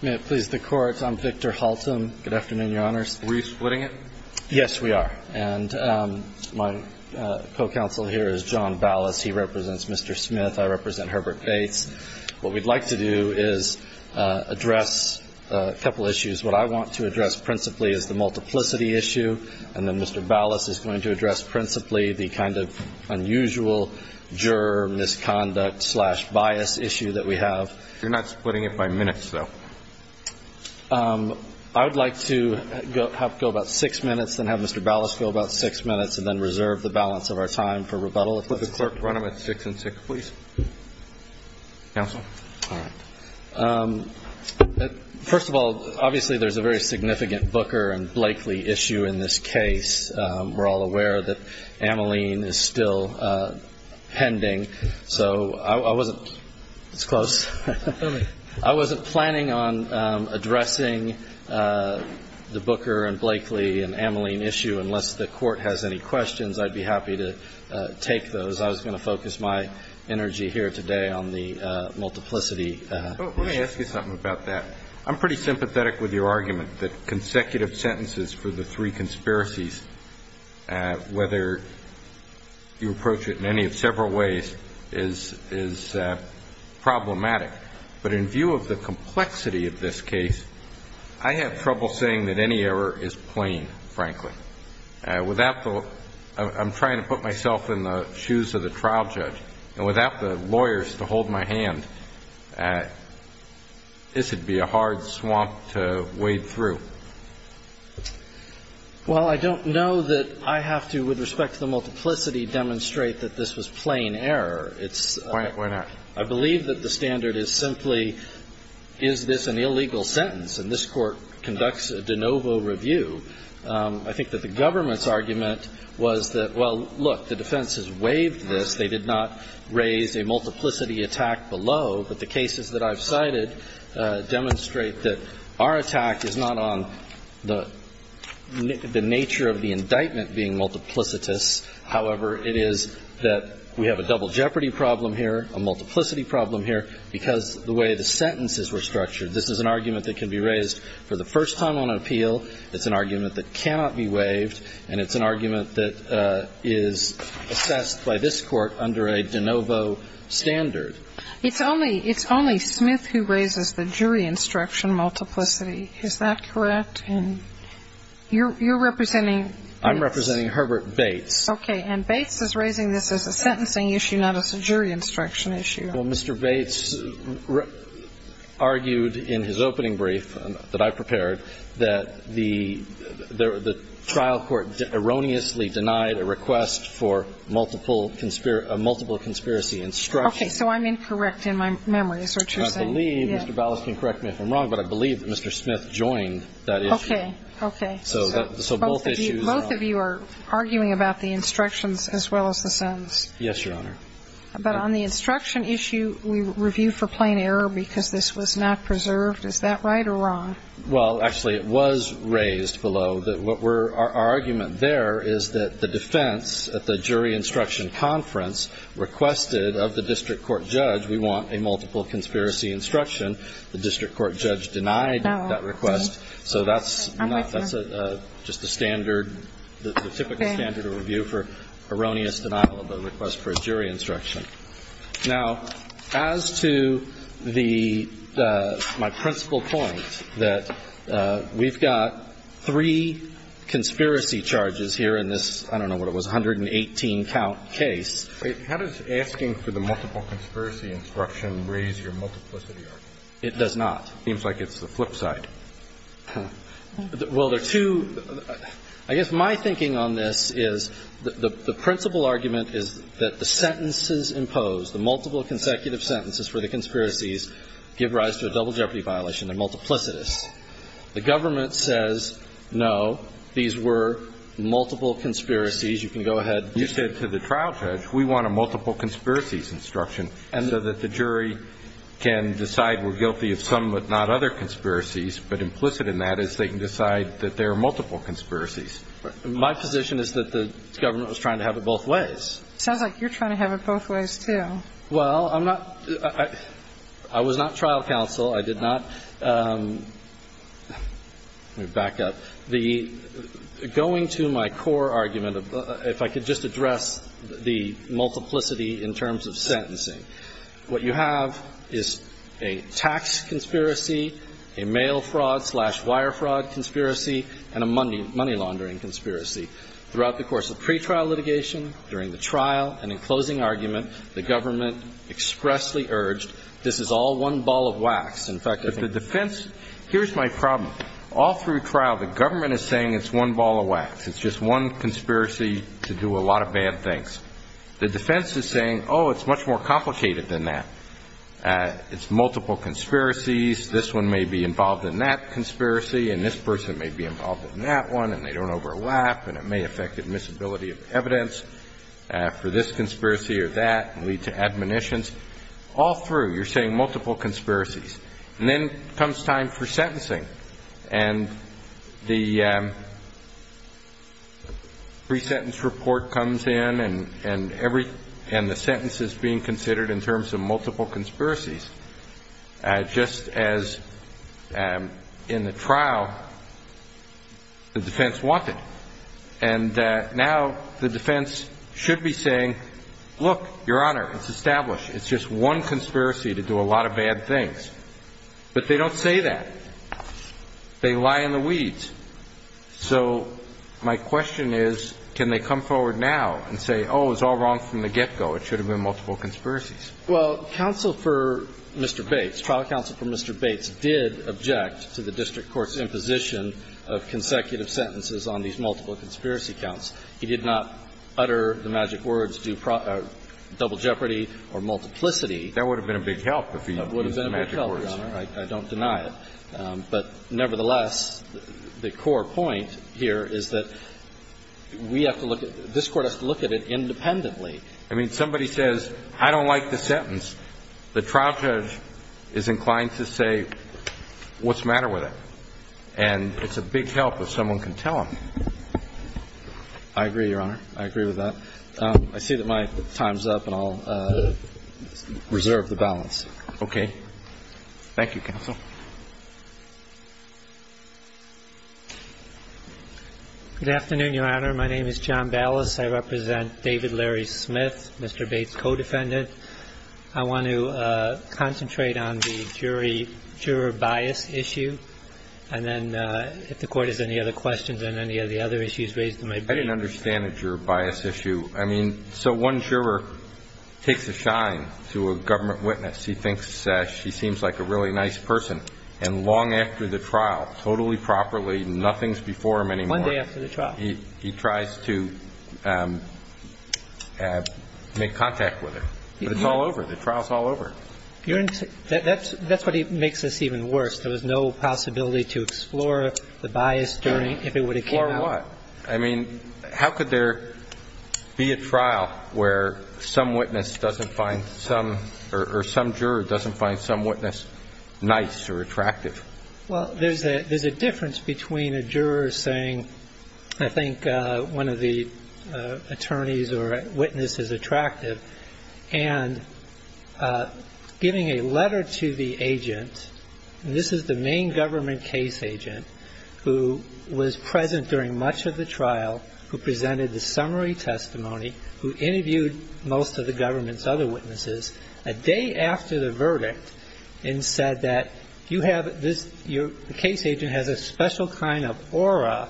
May it please the Court, I'm Victor Halton. Good afternoon, Your Honors. Are we splitting it? Yes, we are. And my co-counsel here is John Ballas. He represents Mr. Smith. I represent Herbert Bates. What we'd like to do is address a couple issues. What I want to address principally is the multiplicity issue, and then Mr. Ballas is going to address principally the kind of issue that we have. You're not splitting it by minutes, though? I would like to have it go about six minutes, then have Mr. Ballas go about six minutes, and then reserve the balance of our time for rebuttal. Would the Clerk run them at six and six, please? Counsel? All right. First of all, obviously there's a very significant Booker and Blakely issue in this case. We're all aware that Ameline is still pending. So I wasn't planning on addressing the Booker and Blakely and Ameline issue unless the Court has any questions. I'd be happy to take those. I was going to focus my energy here today on the multiplicity issue. Let me ask you something about that. I'm pretty sympathetic with your argument that consecutive sentences for the three conspiracies, whether you approach it in any of several ways, is problematic. But in view of the complexity of this case, I have trouble saying that any error is plain, frankly. I'm trying to put myself in the shoes of the trial judge, and without the lawyers to hold my hand, this would be a hard swamp to wade through. Well, I don't know that I have to, with respect to the multiplicity, demonstrate that this was plain error. Why not? I believe that the standard is simply, is this an illegal sentence? And this Court conducts a de novo review. I think that the government's argument was that, well, look, the defense has waived this. They did not raise a multiplicity attack below. But the cases that I've cited demonstrate that our attack is not on the nature of the indictment being multiplicitous. However, it is that we have a double jeopardy problem here, a multiplicity problem here, because the way the sentences were structured. This is an argument that can be raised for the first time on appeal. It's an argument that cannot be waived, and it's an argument that is assessed by this Court under a de novo standard. It's only Smith who raises the jury instruction multiplicity. Is that correct? And you're representing? I'm representing Herbert Bates. Okay. And Bates is raising this as a sentencing issue, not as a jury instruction issue. Well, Mr. Bates argued in his opening brief that I prepared that the trial court erroneously denied a request for multiple conspiracy instructions. Okay. So I'm incorrect in my memory, is that what you're saying? I believe Mr. Ballas can correct me if I'm wrong, but I believe that Mr. Smith joined that issue. Okay. Okay. So both issues are wrong. Both of you are arguing about the instructions as well as the sentence. Yes, Your Honor. But on the instruction issue, we review for plain error because this was not preserved. Is that right or wrong? Well, actually, it was raised below that what we're – our argument there is that the defense at the jury instruction conference requested of the district court judge, we want a multiple conspiracy instruction. The district court judge denied that request. So that's not – that's just a standard – the typical standard of review for erroneous denial of a request for a jury instruction. Now, as to the – my principal point, that we've got three conspiracy charges here in this – I don't know what it was – 118-count case. Wait. How does asking for the multiple conspiracy instruction raise your multiplicity argument? It does not. It seems like it's the flip side. Well, there are two – I guess my thinking on this is the principal argument is that the sentences imposed, the multiple consecutive sentences for the conspiracies give rise to a double jeopardy violation. They're multiplicitous. The government says, no, these were multiple conspiracies. You can go ahead. You said to the trial judge, we want a multiple conspiracies instruction so that the jury can decide we're guilty of some but not other conspiracies. But implicit in that is they can decide that there are multiple conspiracies. My position is that the government was trying to have it both ways. Sounds like you're trying to have it both ways, too. Well, I'm not – I was not trial counsel. I did not – let me back up. The – going to my core argument, if I could just address the multiplicity in terms of sentencing, what you have is a tax conspiracy, a mail fraud slash wire fraud conspiracy, and a money laundering conspiracy. Throughout the course of pretrial litigation, during the trial, and in closing argument, the government expressly urged this is all one ball of wax. In fact, if the defense – here's my problem. All through trial, the government is saying it's one ball of wax. It's just one conspiracy to do a lot of bad things. The defense is saying, oh, it's much more complicated than that. It's multiple conspiracies. This one may be involved in that conspiracy, and this person may be involved in that one, and they don't overlap, and it may affect admissibility of evidence for this conspiracy or that and lead to admonitions. All through, you're saying multiple conspiracies. And then comes time for sentencing. And the pre-sentence report comes in, and every – and the sentence is being considered in terms of multiple conspiracies, just as in the trial the defense wanted. And now the defense should be saying, look, Your Honor, it's established. It's just one conspiracy to do a lot of bad things. But they don't say that. They lie in the weeds. So my question is, can they come forward now and say, oh, it was all wrong from the get-go, it should have been multiple conspiracies? Well, counsel for Mr. Bates, trial counsel for Mr. Bates did object to the district court's imposition of consecutive sentences on these multiple conspiracy counts. He did not utter the magic words, do double jeopardy or multiplicity. That would have been a big help if he used the magic words. I don't deny it. But nevertheless, the core point here is that we have to look at – this Court has to look at it independently. I mean, somebody says, I don't like the sentence. The trial judge is inclined to say, what's the matter with it? And it's a big help if someone can tell him. I agree, Your Honor. I agree with that. I see that my time's up, and I'll reserve the balance. Okay. Thank you, counsel. Good afternoon, Your Honor. My name is John Ballas. I represent David Larry Smith, Mr. Bates' co-defendant. I want to concentrate on the jury-juror bias issue, and then if the Court has any other questions on any of the other issues raised in my brief. I didn't understand the juror bias issue. I mean, so one juror takes a shine to a government witness. He thinks she seems like a really nice person. And long after the trial, totally properly, nothing's before him anymore. One day after the trial. He tries to make contact with her. But it's all over. The trial's all over. That's what makes this even worse. There was no possibility to explore the bias during – if it would have came out. Explore what? I mean, how could there be a trial where some witness doesn't find some – or some juror doesn't find some witness nice or attractive? Well, there's a difference between a juror saying, I think one of the attorneys or witness is attractive, and giving a letter to the agent – and this is the main government case agent who was present during much of the trial, who presented the summary testimony, who interviewed most of the government's other witnesses, a day after the verdict, and said that you have this – your case agent has a special kind of aura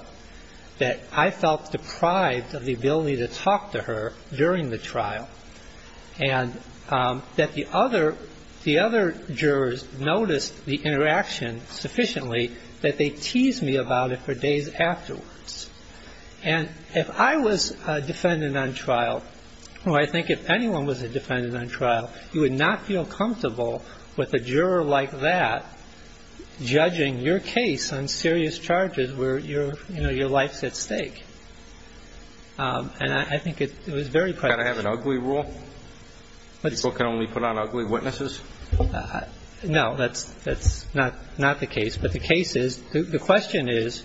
that I felt deprived of the ability to talk to her during the trial. And that the other – the other jurors noticed the interaction sufficiently that they teased me about it for days afterwards. And if I was a defendant on trial, or I think if anyone was a defendant on trial, you would not feel comfortable with a juror like that judging your case on serious charges where your – you know, your life's at stake. And I think it was very – Can I have an ugly rule? People can only put on ugly witnesses? No, that's not the case. But the case is – the question is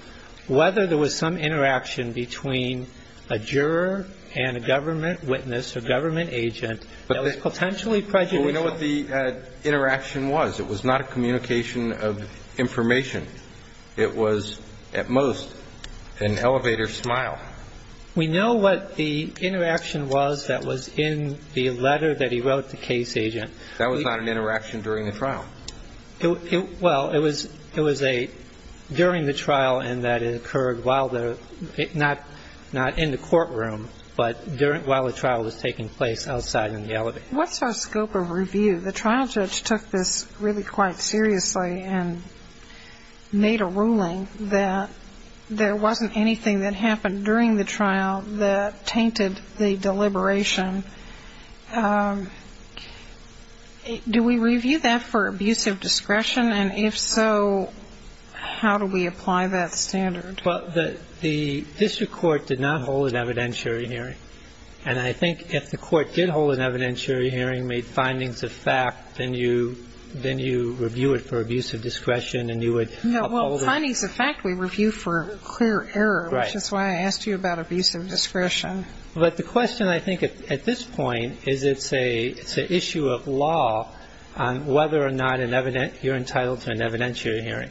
whether there was some interaction between a juror and a government witness or government agent that was potentially prejudicial. But we know what the interaction was. It was not a communication of information. It was, at most, an elevator smile. We know what the interaction was that was in the letter that he wrote the case agent. That was not an interaction during the trial? Well, it was a – during the trial in that it occurred while the – not in the courtroom, but while the trial was taking place outside in the elevator. What's our scope of review? The trial judge took this really quite seriously and made a ruling that there wasn't anything that happened during the trial that tainted the deliberation. Do we review that for abuse of discretion? And if so, how do we apply that standard? Well, the district court did not hold an evidentiary hearing. And I think if the court did hold an evidentiary hearing, made findings of fact, then you review it for abuse of discretion and you would uphold it. No, well, findings of fact we review for clear error. Right. Which is why I asked you about abuse of discretion. But the question I think at this point is it's an issue of law on whether or not you're entitled to an evidentiary hearing.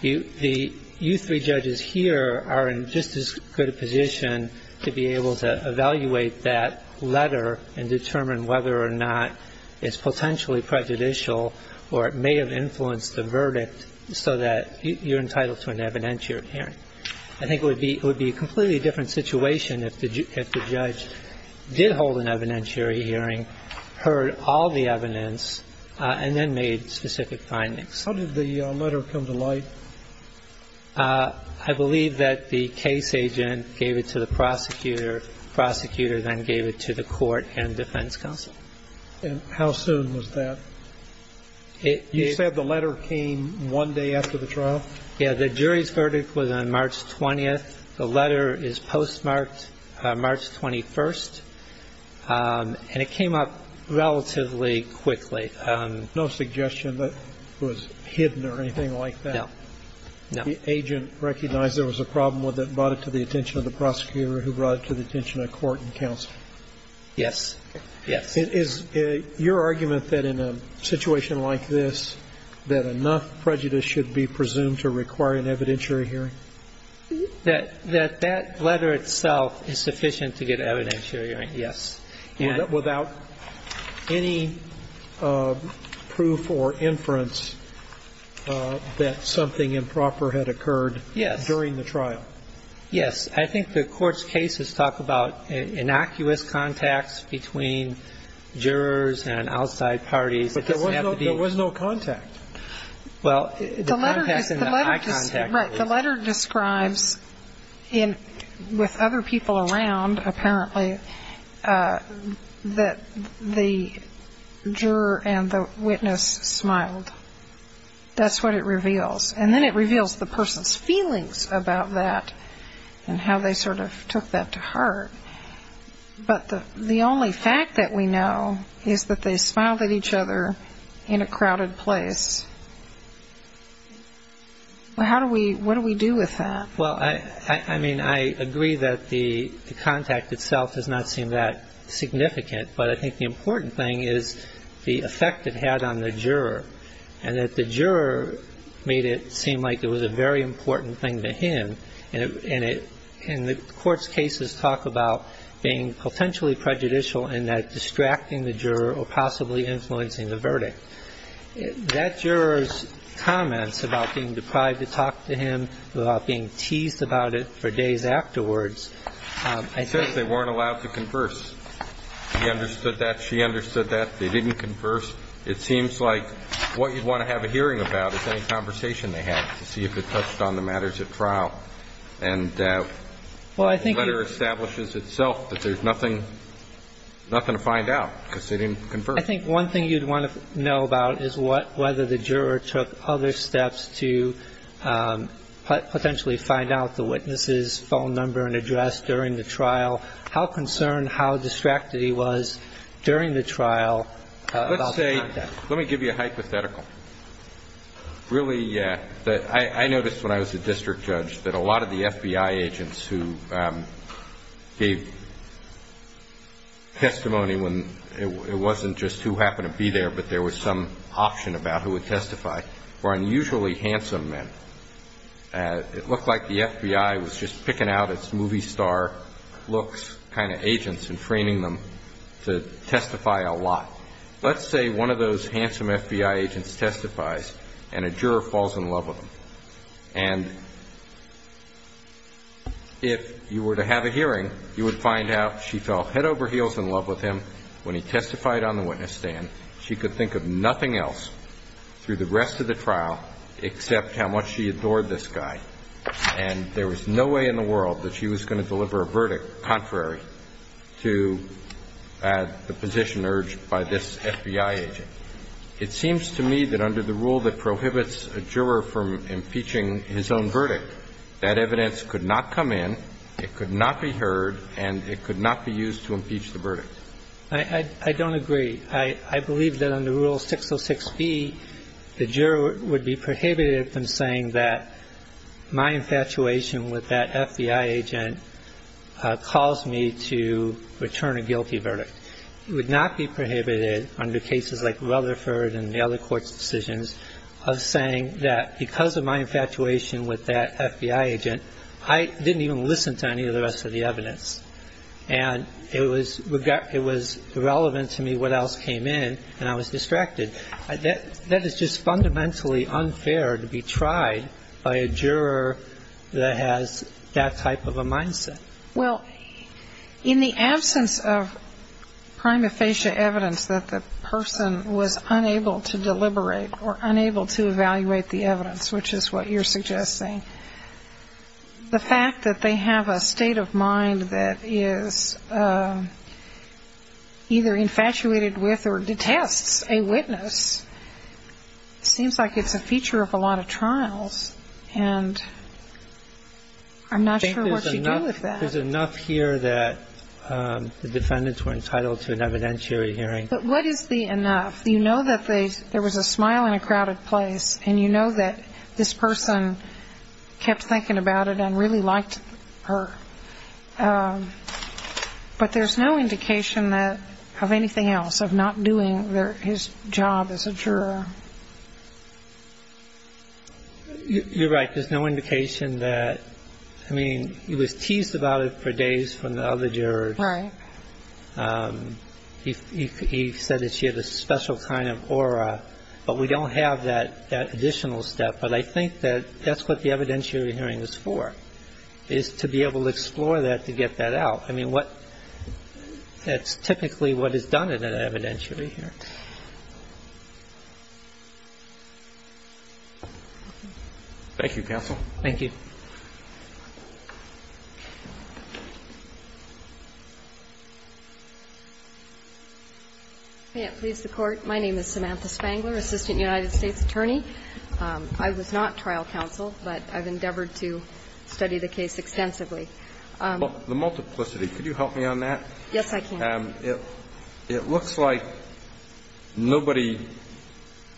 You three judges here are in just as good a position to be able to evaluate that letter and determine whether or not it's potentially prejudicial or it may have influenced the verdict so that you're entitled to an evidentiary hearing. I think it would be a completely different situation if the judge did hold an evidentiary hearing, heard all the evidence, and then made specific findings. How did the letter come to light? I believe that the case agent gave it to the prosecutor. Prosecutor then gave it to the court and defense counsel. And how soon was that? You said the letter came one day after the trial? Yeah, the jury's verdict was on March 20th. The letter is postmarked March 21st. And it came up relatively quickly. No suggestion that it was hidden or anything like that? No. No. The agent recognized there was a problem with it and brought it to the attention of the prosecutor who brought it to the attention of court and counsel? Yes. Yes. Is your argument that in a situation like this that enough prejudice should be presumed to require an evidentiary hearing? That that letter itself is sufficient to get an evidentiary hearing, yes. Without any proof or inference that something improper had occurred during the trial? Yes. I think the court's cases talk about innocuous contacts between jurors and outside parties. But there was no contact. Well, the contact in the eye contact... Right. The letter describes, with other people around, apparently, that the juror and the witness smiled. That's what it reveals. And then it reveals the person's feelings about that and how they sort of took that to heart. But the only fact that we know is that they smiled at each other in a crowded place. How do we... What do we do with that? Well, I mean, I agree that the contact itself does not seem that significant. But I think the important thing is the effect it had on the juror and that the juror made it seem like it was a very important thing to him. And the court's cases talk about being potentially prejudicial and that distracting the juror or possibly influencing the verdict. That juror's comments about being deprived to talk to him about being teased about it for days afterwards, I think... He says they weren't allowed to converse. He understood that. She understood that. They didn't converse. It seems like what you'd want to have a hearing about is any conversation they had to see if it touched on the matters at trial. And the letter establishes itself that there's nothing to find out because they didn't converse. I think one thing you'd want to know about is whether the juror took other steps to potentially find out the witness's phone number and address during the trial. How concerned, how distracted he was during the trial about the contact. Let me give you a hypothetical. Really, I noticed when I was a district judge that a lot of the FBI agents who gave testimony when it wasn't just who happened to be there but there was some option about who would testify were unusually handsome men. It looked like the FBI was just picking out its movie star looks kind of agents and training them to testify a lot. Let's say one of those if you were to have a hearing you would find out she fell head over heels in love with him when he testified on the witness stand. She could think of nothing else through the rest of the trial except how much she adored this guy. And there was no way in the world that she was going to deliver a verdict contrary to the position urged by this FBI agent. It seems to me that under the rule that prohibits a juror from impeaching his own verdict that evidence could not come in it could not be heard and it could not be used to impeach the verdict. I don't agree. I believe that under rule 606B the juror would be prohibited from saying that my infatuation with that FBI agent caused me to return a guilty verdict. It would not be prohibited under cases like Rutherford and the other court's decisions of saying that because of my infatuation with that FBI agent I didn't even listen to any of the rest of the evidence and it was irrelevant to me what else came in and I was distracted. That is just fundamentally unfair to be tried by a juror that has that type of a mindset. In the absence of prima facie evidence that the person was unable to deliberate or unable to evaluate the evidence which is what you're suggesting the fact that they have a state of mind that is either infatuated with or detests a witness seems like it's a feature of a lot of trials and I'm not sure what you do with that. There's enough here that the defendants were entitled to an evidentiary hearing. But what is the enough? You know that there was a smile in a crowded place and you know that this person kept thinking about it and really liked her but there's no indication of anything else of not doing his job as a juror. You're right there's no indication that he was teased about it for days from the other jurors he said that she had a special kind of aura but we don't have that additional step but I think that's what the evidentiary hearing is for is to be able to explore that to get that out that's typically what is done in an evidentiary hearing. Thank you Counsel. Thank you. May it please the Court my name is Samantha Spangler Assistant United States Attorney I was not trial counsel but I've endeavored to study the case extensively. The multiplicity, could you help me on that? Yes I can. It looks like nobody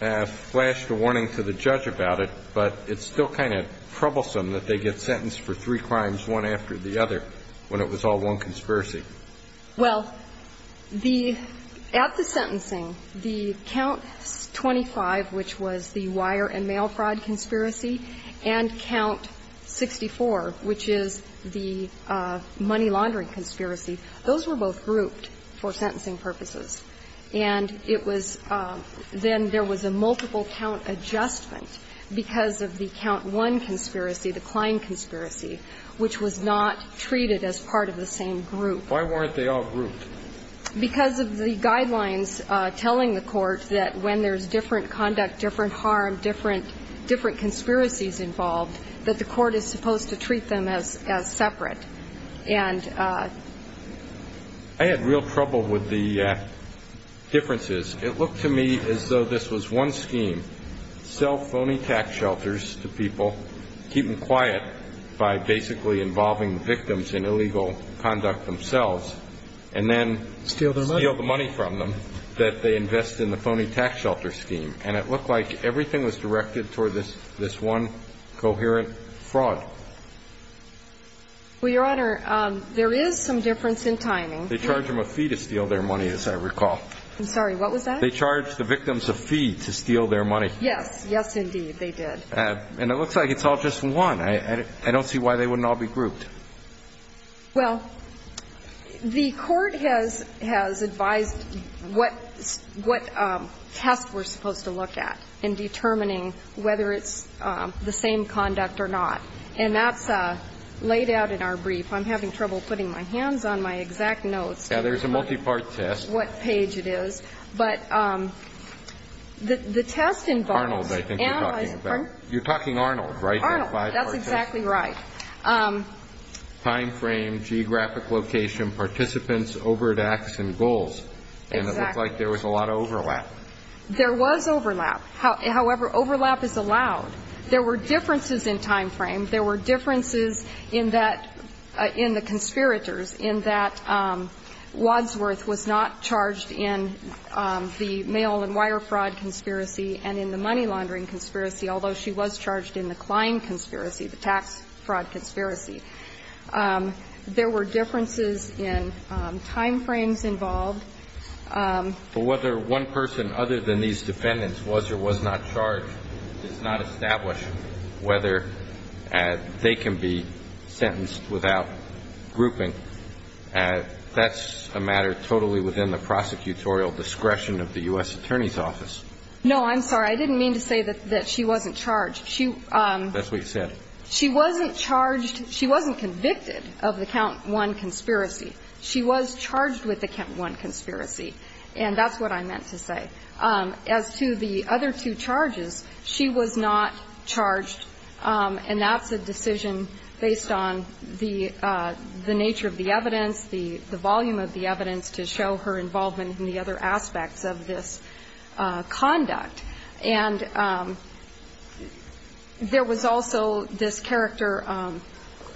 flashed a warning to the judge about it but it's still kind of troublesome that they get sentenced for three crimes one after the other when it was all one conspiracy. Well at the sentencing the count 25 which was the wire and mail fraud conspiracy and count 64 which is the money laundering conspiracy, those were both grouped for sentencing purposes and it was then there was a multiple count adjustment because of the count 1 conspiracy, the Klein conspiracy which was not treated as part of the same group. Why weren't they all grouped? Because of the guidelines telling the court that when there's different conduct, different harm, different conspiracies involved that the court is supposed to treat them as separate I had real trouble with the differences. It looked to me as though this was one scheme sell phony tax shelters to people, keep them quiet by basically involving victims in illegal conduct themselves and then steal the money from them that they invest in the phony tax shelter scheme and it looked like everything was directed toward this one coherent fraud. Well your honor there is some difference in timing They charged them a fee to steal their money as I recall I'm sorry what was that? They charged the victims a fee to steal their money Yes, yes indeed they did And it looks like it's all just one I don't see why they wouldn't all be grouped Well the court has advised what test we're supposed to look at in determining whether it's the same conduct or not and that's laid out in our brief I'm having trouble putting my hands on my exact notes Yeah there's a multi-part test what page it is but the test Arnold I think you're talking about You're talking Arnold right? That's exactly right Time frame, geographic location participants, overhead acts and goals and it looked like there was a lot of overlap There was overlap however overlap is allowed there were differences in time frame there were differences in that in the conspirators in that Wadsworth was not charged in the mail and wire fraud conspiracy and in the money laundering conspiracy although she was charged in the Klein conspiracy, the tax fraud conspiracy there were differences in time frames involved but whether one person other than these defendants was or was not charged does not establish whether they can be sentenced without grouping that's a matter totally within the prosecutorial discretion of the U.S. Attorney's Office No I'm sorry I didn't mean to say that she wasn't charged She wasn't charged she wasn't convicted of the count one conspiracy she was charged with the count one conspiracy and that's what I meant to say as to the other two charges she was not charged and that's a decision based on the nature of the evidence the volume of the evidence to show her involvement in the other aspects of this conduct and there was also this character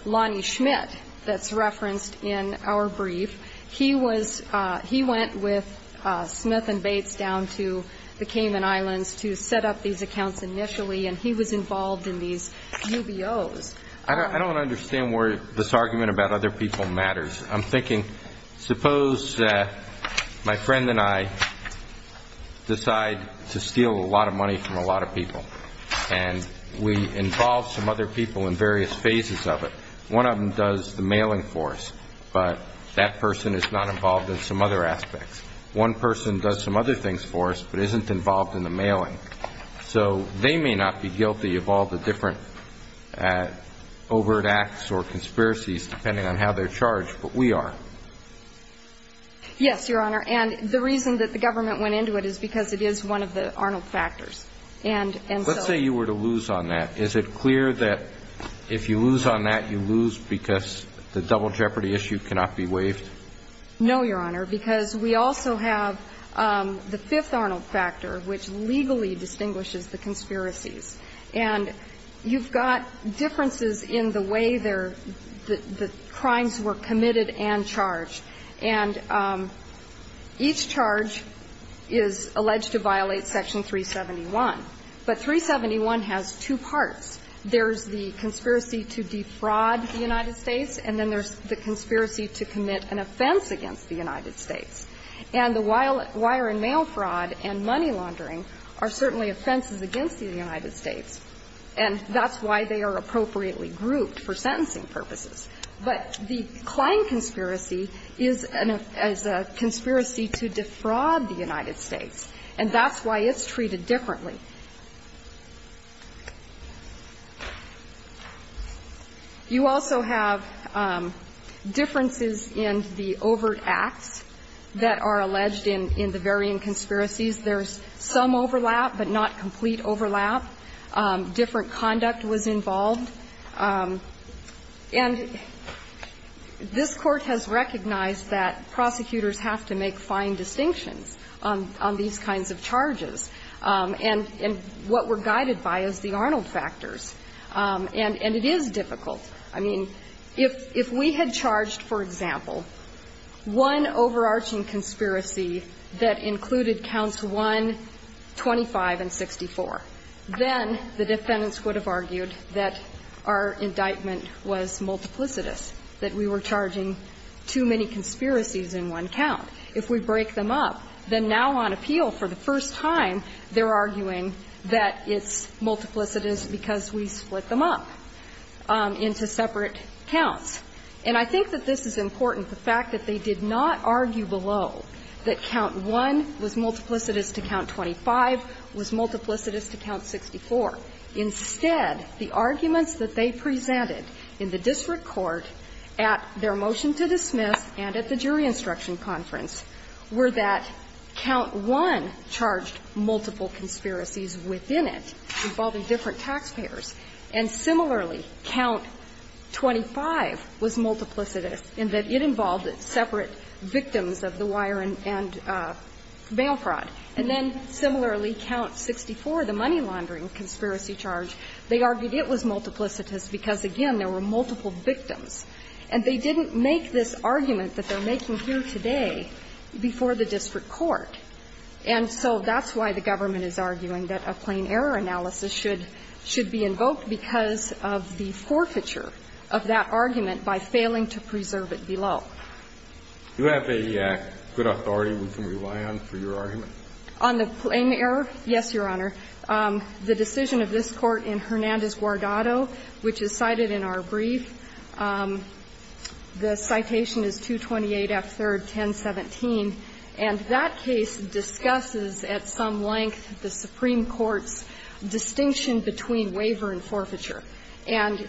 Lonnie Schmidt that's referenced in our brief he was he went with Smith and Bates down to the Cayman Islands to set up these accounts initially and he was involved in these UBO's I don't understand where this argument about other people matters I'm thinking suppose my friend and I decide to steal a lot of money from a lot of people and we involve some other people in various phases of it one of them does the mailing for us but that person is not involved in some other aspects one person does some other things for us but isn't involved in the mailing so they may not be guilty of all the different overt acts or conspiracies depending on how they're charged but we are yes your honor and the reason that the government went into it is because it is one of the Arnold factors let's say you were to lose on that is it clear that if you lose on that you lose because the double jeopardy issue cannot be waived no your honor because we also have the fifth Arnold factor which legally distinguishes the conspiracies and you've got differences in the way the crimes were committed and charged and each charge is alleged to violate section 371 but 371 has two parts there's the conspiracy to defraud the United States and then there's the conspiracy to commit an offense against the United States and the wire and mail fraud and money laundering are certainly offenses against the United States and that's why they are appropriately grouped for sentencing purposes but the Klein conspiracy is a conspiracy to defraud the United States and that's why it's treated differently you also have differences in the overt acts that are alleged in the varying conspiracies there's some overlap but not complete overlap different conduct was involved and this court has recognized that prosecutors have to make fine distinctions on these kinds of charges and what we're guided by is the Arnold factors and it is difficult I mean if we had charged for example one overarching conspiracy that included counts 1, 25 and 64 then the defendants would have argued that our indictment was multiplicitous that we were charging too many conspiracies in one count if we break them up then now on appeal for the first time they're arguing that it's multiplicitous because we split them up into separate counts and I think that this is important the fact that they did not argue below that count 1 was multiplicitous to count 25 was multiplicitous to count 64 instead the arguments that they presented in the district court at their motion to dismiss and at the jury instruction conference were that count 1 charged multiple conspiracies within it involving different taxpayers and similarly count 25 was multiplicitous in that it involved separate victims of the wire and bail fraud and then similarly count 64 the money laundering conspiracy charge they argued it was multiplicitous because again there were multiple victims and they didn't make this argument that they're making here today before the district court and so that's why the government is arguing that a plain error analysis should be invoked because of the forfeiture of that argument by failing to preserve it below do you have a good authority we can rely on for your argument on the plain error yes your honor the decision of this court in Hernandez Guardado which is cited in our brief the citation is 228 F 3rd 1017 and that case discusses at some length the supreme court's distinction between waiver and forfeiture and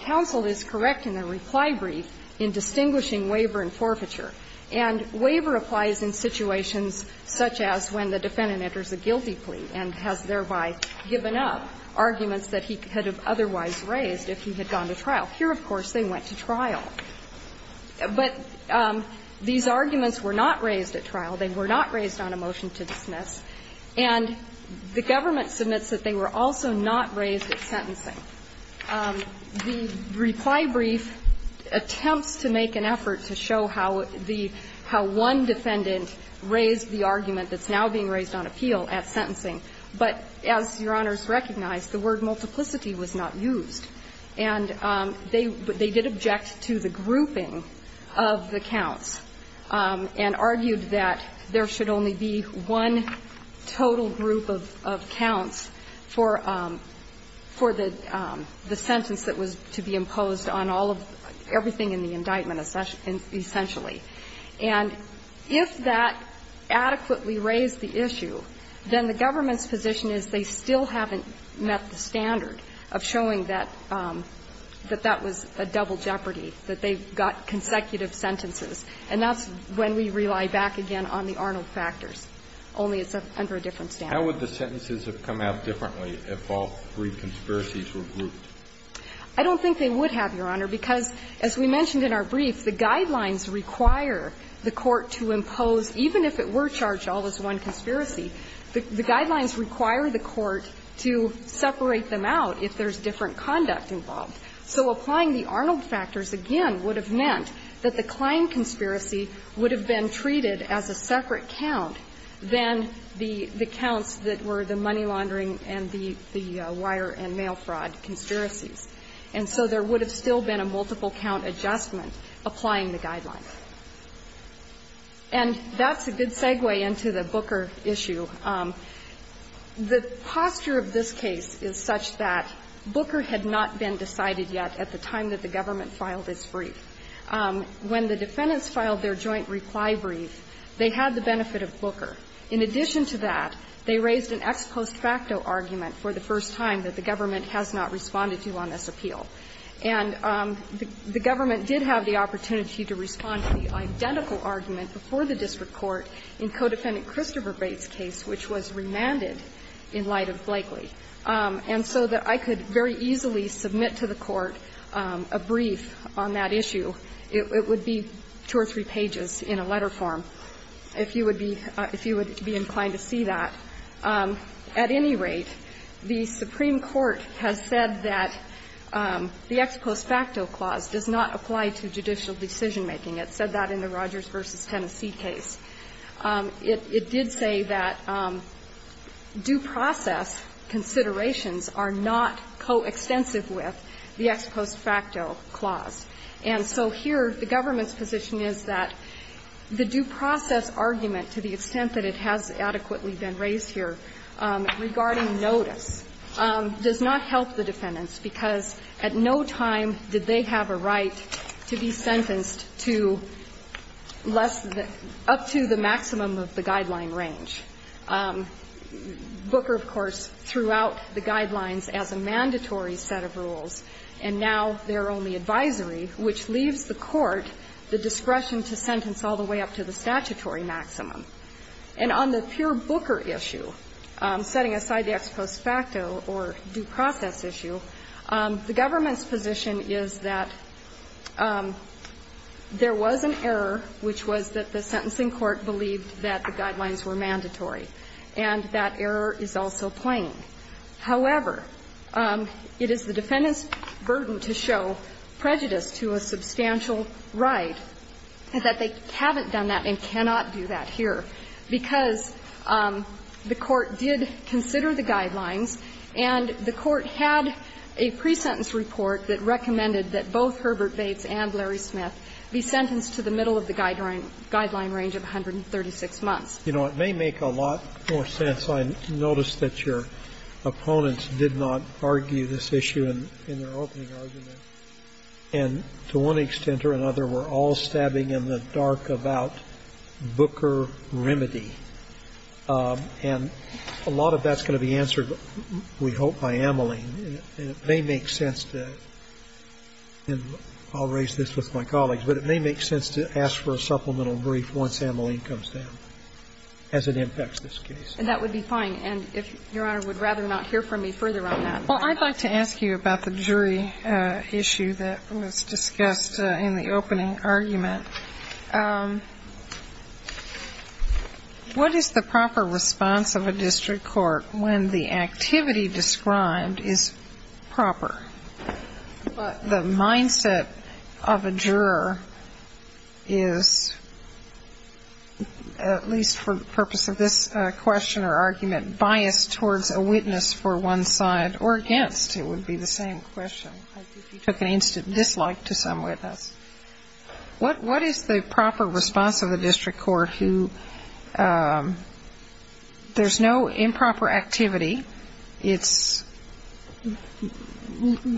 counsel is correct in the reply brief in distinguishing waiver and forfeiture and waiver applies in situations such as when the defendant enters a guilty plea and has thereby given up arguments that he could have otherwise raised if he had gone to trial here of course they went to trial but these arguments were not raised at trial they were not raised on a motion to dismiss and the government submits that they were also not raised at sentencing the reply brief attempts to make an effort to show how the how one defendant raised the argument that's now being raised on appeal at sentencing but as your honors recognize the word multiplicity was not used and they did object to the grouping of the counts and argued that there should only be one total group of counts for the sentence that was to be imposed on all of everything in the indictment essentially and if that adequately raised the issue then the government's position is they still haven't met the standard of showing that that that was a double jeopardy that they've got consecutive sentences and that's when we rely back again on the Arnold factors only it's under a different standard how would the sentences have come out differently if all three conspiracies were grouped I don't think they would have your honor because as we mentioned in our brief the guidelines require the court to impose even if it were charged all as one conspiracy the guidelines require the court to separate them out if there's different conduct involved so applying the Arnold factors again would have meant that the Klein conspiracy would have been treated as a separate count than the counts that were the money laundering and the wire and mail fraud conspiracies and so there would have still been a multiple count adjustment applying the guidelines and that's a good segue into the Booker issue the posture of this case is such that Booker had not been decided yet at the time that the government filed this brief when the defendants filed their joint reply brief they had the benefit of Booker in addition to that they raised an ex post facto argument for the first time that the government has not responded to on this appeal and the government did have the opportunity to respond to the identical argument before the district court in co-defendant Christopher Bates case which was remanded in light of Blakely and so that I could very easily submit to the court a brief on that issue it would be two or three pages in a letter form if you would be inclined to see that at any rate the Supreme Court has said that the ex post facto clause does not apply to judicial decision making it said that in the Rogers v. Tennessee case it did say that due process considerations are not co-extensive with the ex post facto clause and so here the government's position is that the due process argument to the extent that it has adequately been raised here regarding non-notice does not help the defendants because at no time did they have a right to be sentenced to up to the maximum of the guideline range Booker of course threw out the guidelines as a mandatory set of rules and now their only advisory which leaves the court the discretion to sentence all the way up to the statutory maximum and on the pure Booker issue setting aside the ex post facto or due process issue the government's position is that there was an error which was that the sentencing court believed that the guidelines were mandatory and that error is also plain however it is the defendants burden to show prejudice to a substantial right that they haven't done that and cannot do that here because the court did consider the guidelines and the court had a pre-sentence report that recommended that both Herbert Bates and Larry Smith be sentenced to the middle of the guideline range of 136 months. You know it may make a lot more sense, I noticed that your opponents did not argue this issue in their opening argument and to one extent or another were all Booker remedy and a lot of that's going to be answered we hope by Ameline and it may make sense to and I'll raise this with my colleagues but it may make sense to ask for a supplemental brief once Ameline comes down as it impacts this case. And that would be fine and if Your Honor would rather not hear from me further on that. Well I'd like to ask you about the jury issue that was discussed in the opening argument What is the proper response of a district court when the activity described is proper but the mindset of a juror is at least for the purpose of this question or argument biased towards a witness for one side or against it would be the same question. I think you took an instant dislike to some witness. What is the proper response of the district court who there's no improper activity. It's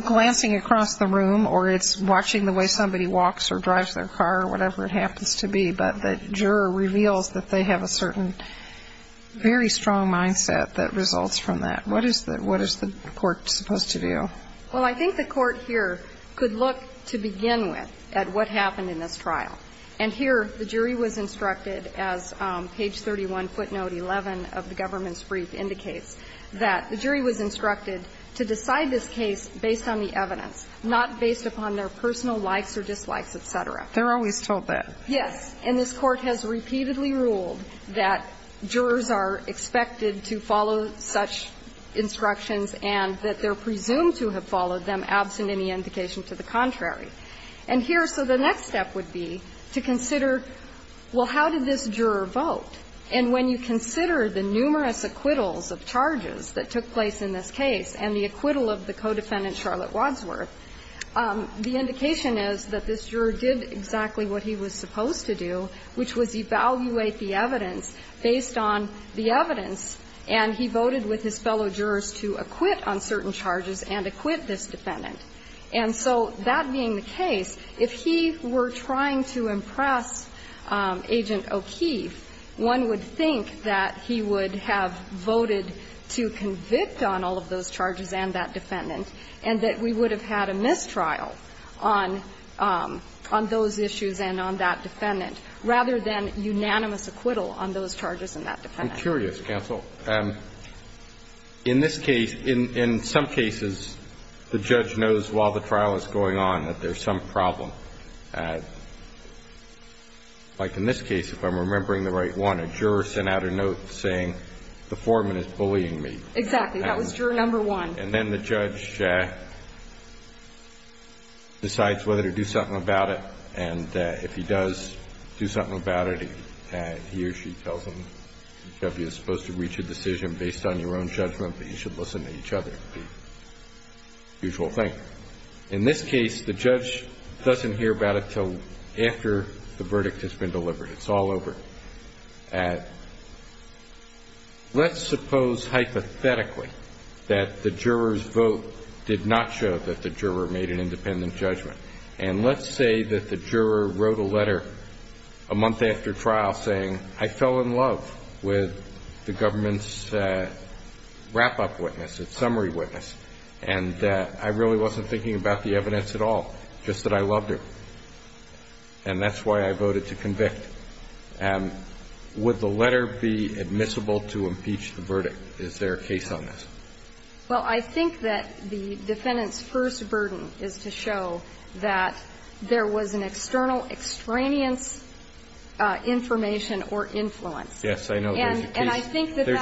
glancing across the room or it's watching the way somebody walks or drives their car or whatever it happens to be but the juror reveals that they have a certain very strong mindset that results from that. What is the court supposed to do? Well I think the court here could look to begin with at what happened in this trial. And here the jury was instructed as page 31 footnote 11 of the government's brief indicates that the jury was instructed to decide this case based on the evidence not based upon their personal likes or dislikes etc. They're always told that. Yes. And this court has repeatedly ruled that jurors are expected to follow such instructions and that they're presumed to have followed them or so the next step would be to consider well how did this juror vote? And when you consider the numerous acquittals of charges that took place in this case and the acquittal of the co-defendant Charlotte Wadsworth, the indication is that this juror did exactly what he was supposed to do which was evaluate the evidence based on the evidence and he voted with his fellow jurors to acquit on certain charges and acquit this defendant. And so that being the case if he were trying to impress Agent O'Keefe one would think that he would have voted to convict on all of those charges and that defendant and that we would have had a mistrial on those issues and on that defendant rather than unanimous acquittal on those charges and that defendant. I'm curious counsel. In this case, in some cases the judge knows while the trial is going on that there's some problem and like in this case if I'm remembering the right one, a juror sent out a note saying the foreman is bullying me. Exactly. That was juror number one. And then the judge decides whether to do something about it and if he does do something about it he or she tells him you're supposed to reach a decision based on your own judgment but you should listen to each other. Usual thing. In this case the judge doesn't hear about it until after the verdict has been delivered. It's all over. Let's suppose hypothetically that the juror's vote did not show that the juror made an independent judgment and let's say that the juror wrote a letter a month after trial saying I fell in love with the government's wrap-up witness, its summary witness and I really wasn't thinking about the evidence at all, just that I loved it and that's why I voted to convict. Would the letter be admissible to impeach the verdict? Is there a case on this? Well, I think that the defendant's first burden is to show that there was an external extraneous information or influence. Yes, I know there's a case. And actually there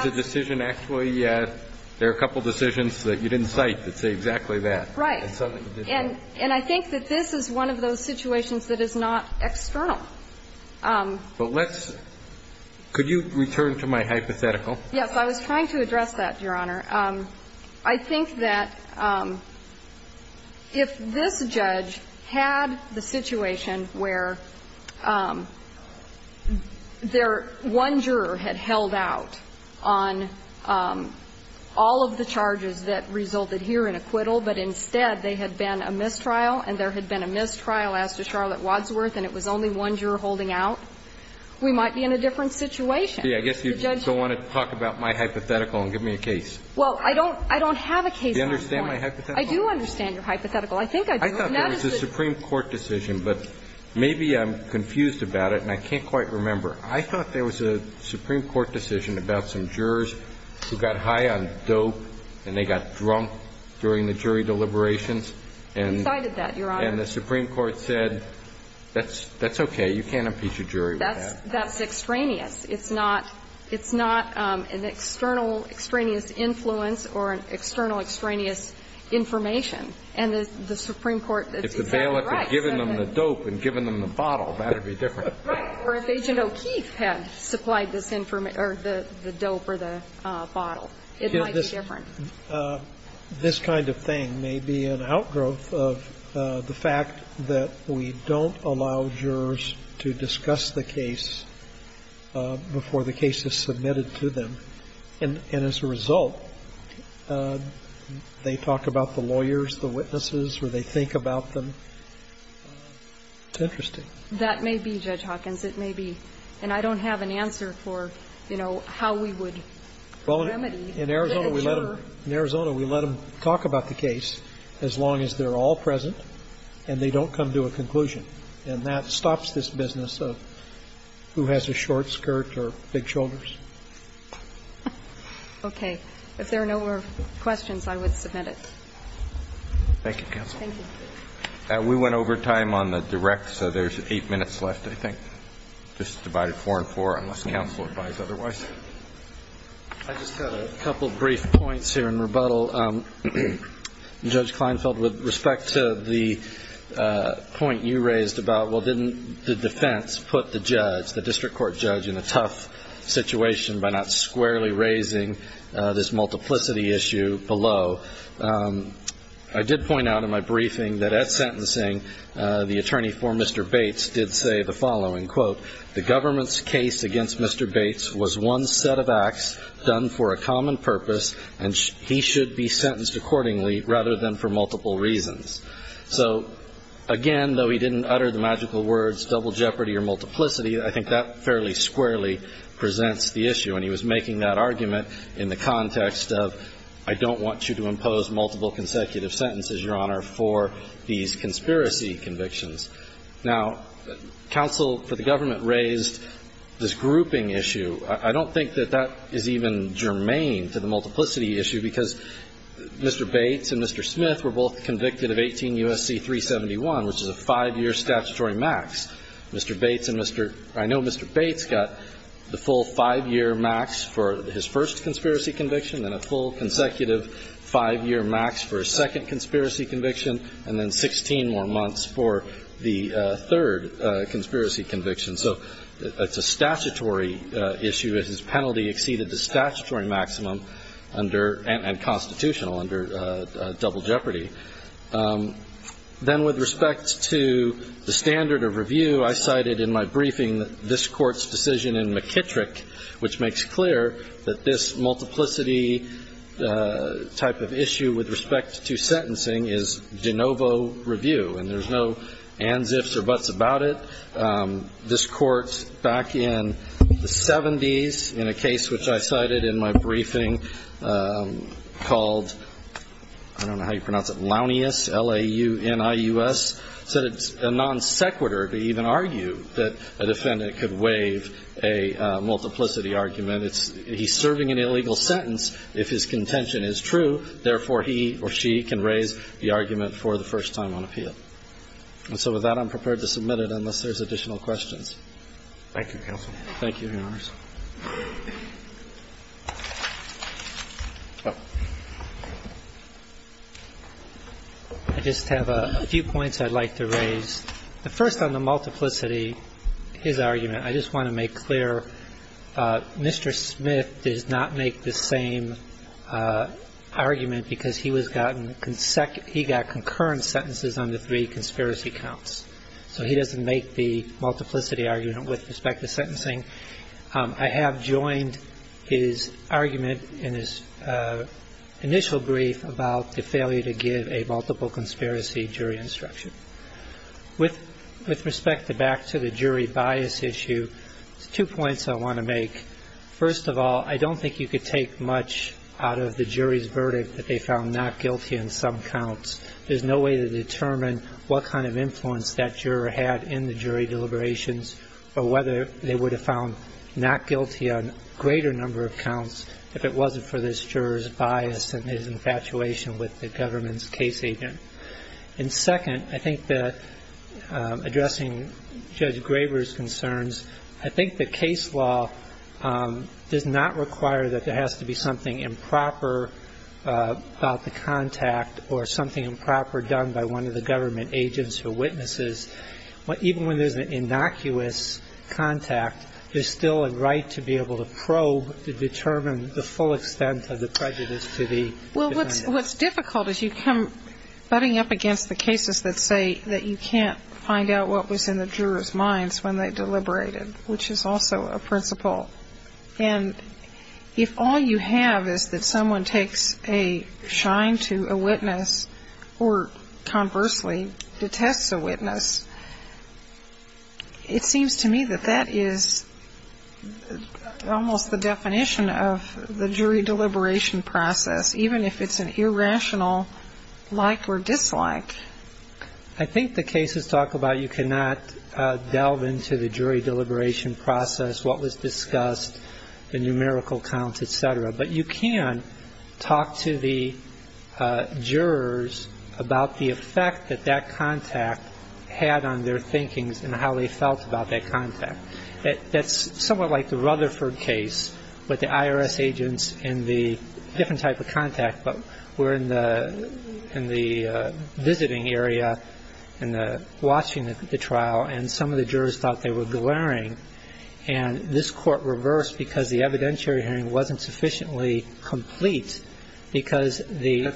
are a couple decisions that you didn't cite that say exactly that. Right. And I think that this is one of those situations that is not external. But let's could you return to my hypothetical? Yes, I was trying to address that, Your Honor. I think that if this judge had the situation where their one juror had held out on all of the charges that resulted here in acquittal but instead they had been a mistrial and there had been a mistrial as to Charlotte Wadsworth and it was only one juror holding out, we might be in a different situation. See, I guess you don't want to talk about my hypothetical and give me a case. Well, I don't have a case. Do you understand my hypothetical? I do understand your hypothetical. I think I do. I thought there was a Supreme Court decision, but maybe I'm confused about it and I can't quite remember. I thought there was a Supreme Court decision about some jurors who got high on dope and they got drunk during the jury deliberations and the Supreme Court said that's okay, you can't impeach a jury with that. That's extraneous. It's not an external extraneous influence or an external extraneous information. And the Supreme Court said If the bailiff had given them the dope and given them the bottle, that would be different. Right. Or if Agent O'Keefe had supplied this information, or the dope or the bottle, it might be different. This kind of thing may be an outgrowth of the fact that we don't allow jurors to discuss the case before the case is submitted to them, and as a result, they talk about the lawyers, the witnesses, or they think about them. It's interesting. That may be, Judge Hawkins. It may be. And I don't have an answer for, you know, how we would remedy. In Arizona, we let them talk about the case as long as they're all present and they don't come to a conclusion. And that stops this business of who has a short skirt Okay. If there are no more questions, I would submit it. Thank you, Counsel. Thank you. We went over time on the direct, so there's eight minutes left, I think. Just divided four and four, unless Counsel advise otherwise. I just had a couple brief points here in rebuttal. Judge Kleinfeld, with respect to the point you raised about, well, didn't the defense put the judge, the district court judge, in a tough situation by not squarely raising this multiplicity issue below? I did point out in my briefing that at sentencing, the attorney for Mr. Bates did say the following, quote, the government's case against Mr. Bates was one set of acts done for a common purpose, and he should be sentenced accordingly rather than for multiple reasons. So, again, though he didn't utter the magical words double jeopardy or multiplicity, I think that fairly squarely presents the issue. And he was making that argument in the context of I don't want you to impose multiple consecutive sentences, Your Honor, for these conspiracy convictions. Now, counsel for the government raised this grouping issue. I don't think that that is even germane to the multiplicity issue because Mr. Bates and Mr. Smith were both convicted of 18 U.S.C. 371, which is a five-year statutory max. Mr. Bates and Mr. I know Mr. Bates got the full five-year max for his first consecutive five-year max for his second conspiracy conviction, and then 16 more months for the third conspiracy conviction. So it's a statutory issue. His penalty exceeded the statutory maximum under, and constitutional under, double jeopardy. Then with respect to the standard of review, I cited in my briefing this Court's decision in McKittrick which makes clear that this multiplicity type of issue with respect to sentencing is de novo review, and there's no ands, ifs or buts about it. This Court, back in the 70s, in a case which I cited in my briefing called I don't know how you pronounce it, Launius L-A-U-N-I-U-S said it's a non-sequitur to even argue that a defendant could waive a multiplicity argument. He's serving an illegal sentence if his contention is true, therefore he or she can raise the argument for the first time on appeal. And so with that, I'm prepared to submit it unless there's additional questions. Thank you, counsel. Thank you, Your Honors. I just have a few points I'd like to raise. The first on the multiplicity, his argument, I just Mr. Smith does not make the same argument because he was gotten concurrent sentences on the three conspiracy counts. So he doesn't make the multiplicity argument with respect to sentencing. I have joined his argument in his initial brief about the failure to give a multiple conspiracy jury instruction. With respect to back to the jury bias issue, two points I want to make. First of all, I don't think you could take much out of the jury's verdict that they found not guilty on some counts. There's no way to determine what kind of influence that juror had in the jury deliberations or whether they would have found not guilty on a greater number of counts if it wasn't for this juror's bias and his infatuation with the government's case agent. And second, I think that addressing Judge Graber's concerns, I think the case law does not require that there has to be something improper about the contact or something improper done by one of the government agents or witnesses. Even when there's an innocuous contact, there's still a right to be able to probe to determine the full extent of the prejudice to the defendant. Well, what's difficult is you come butting up against the cases that say that you can't find out what was in the jurors' minds when they deliberated, which is also a principle. And if all you have is that someone takes a shine to a witness or, conversely, detests a witness, it seems to me that that is almost the definition of the jury deliberation process, even if it's an irrational like or dislike. I think the cases talk about you cannot delve into the jury deliberation process, what was discussed, the numerical count, etc. But you can talk to the jurors about the effect that that contact had on their thinking and how they felt about that contact. That's somewhat like the Rutherford case with the IRS agents and the different type of contact, but we're in the visiting area and watching the trial and some of the jurors thought they were glaring and this court reversed because the evidentiary hearing wasn't sufficiently complete because the...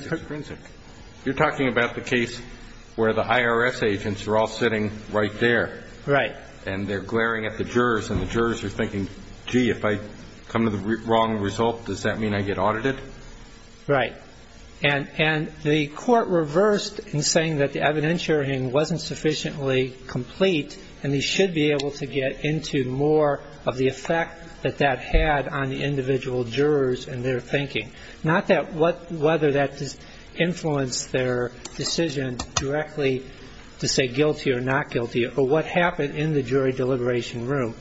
You're talking about the case where the IRS agents are all sitting right there. Right. And they're glaring at the jurors and the jurors are thinking, gee, if I come to the wrong result, does that mean I get audited? Right. And the court reversed in saying that the evidentiary hearing wasn't sufficiently complete and they should be able to get into more of the effect that that had on the individual jurors and their thinking. Not whether that influenced their decision directly to say guilty or not guilty, but what happened in the jury deliberation room.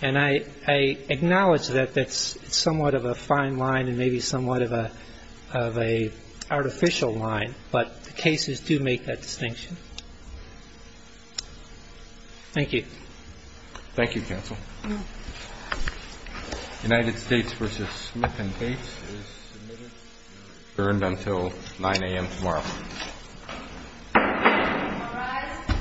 And I acknowledge that that's somewhat of a fine line and maybe somewhat of a artificial line, but the cases do make that distinction. Thank you. Thank you, counsel. United States v. Smith and Gates is adjourned until 9 a.m. tomorrow. All rise.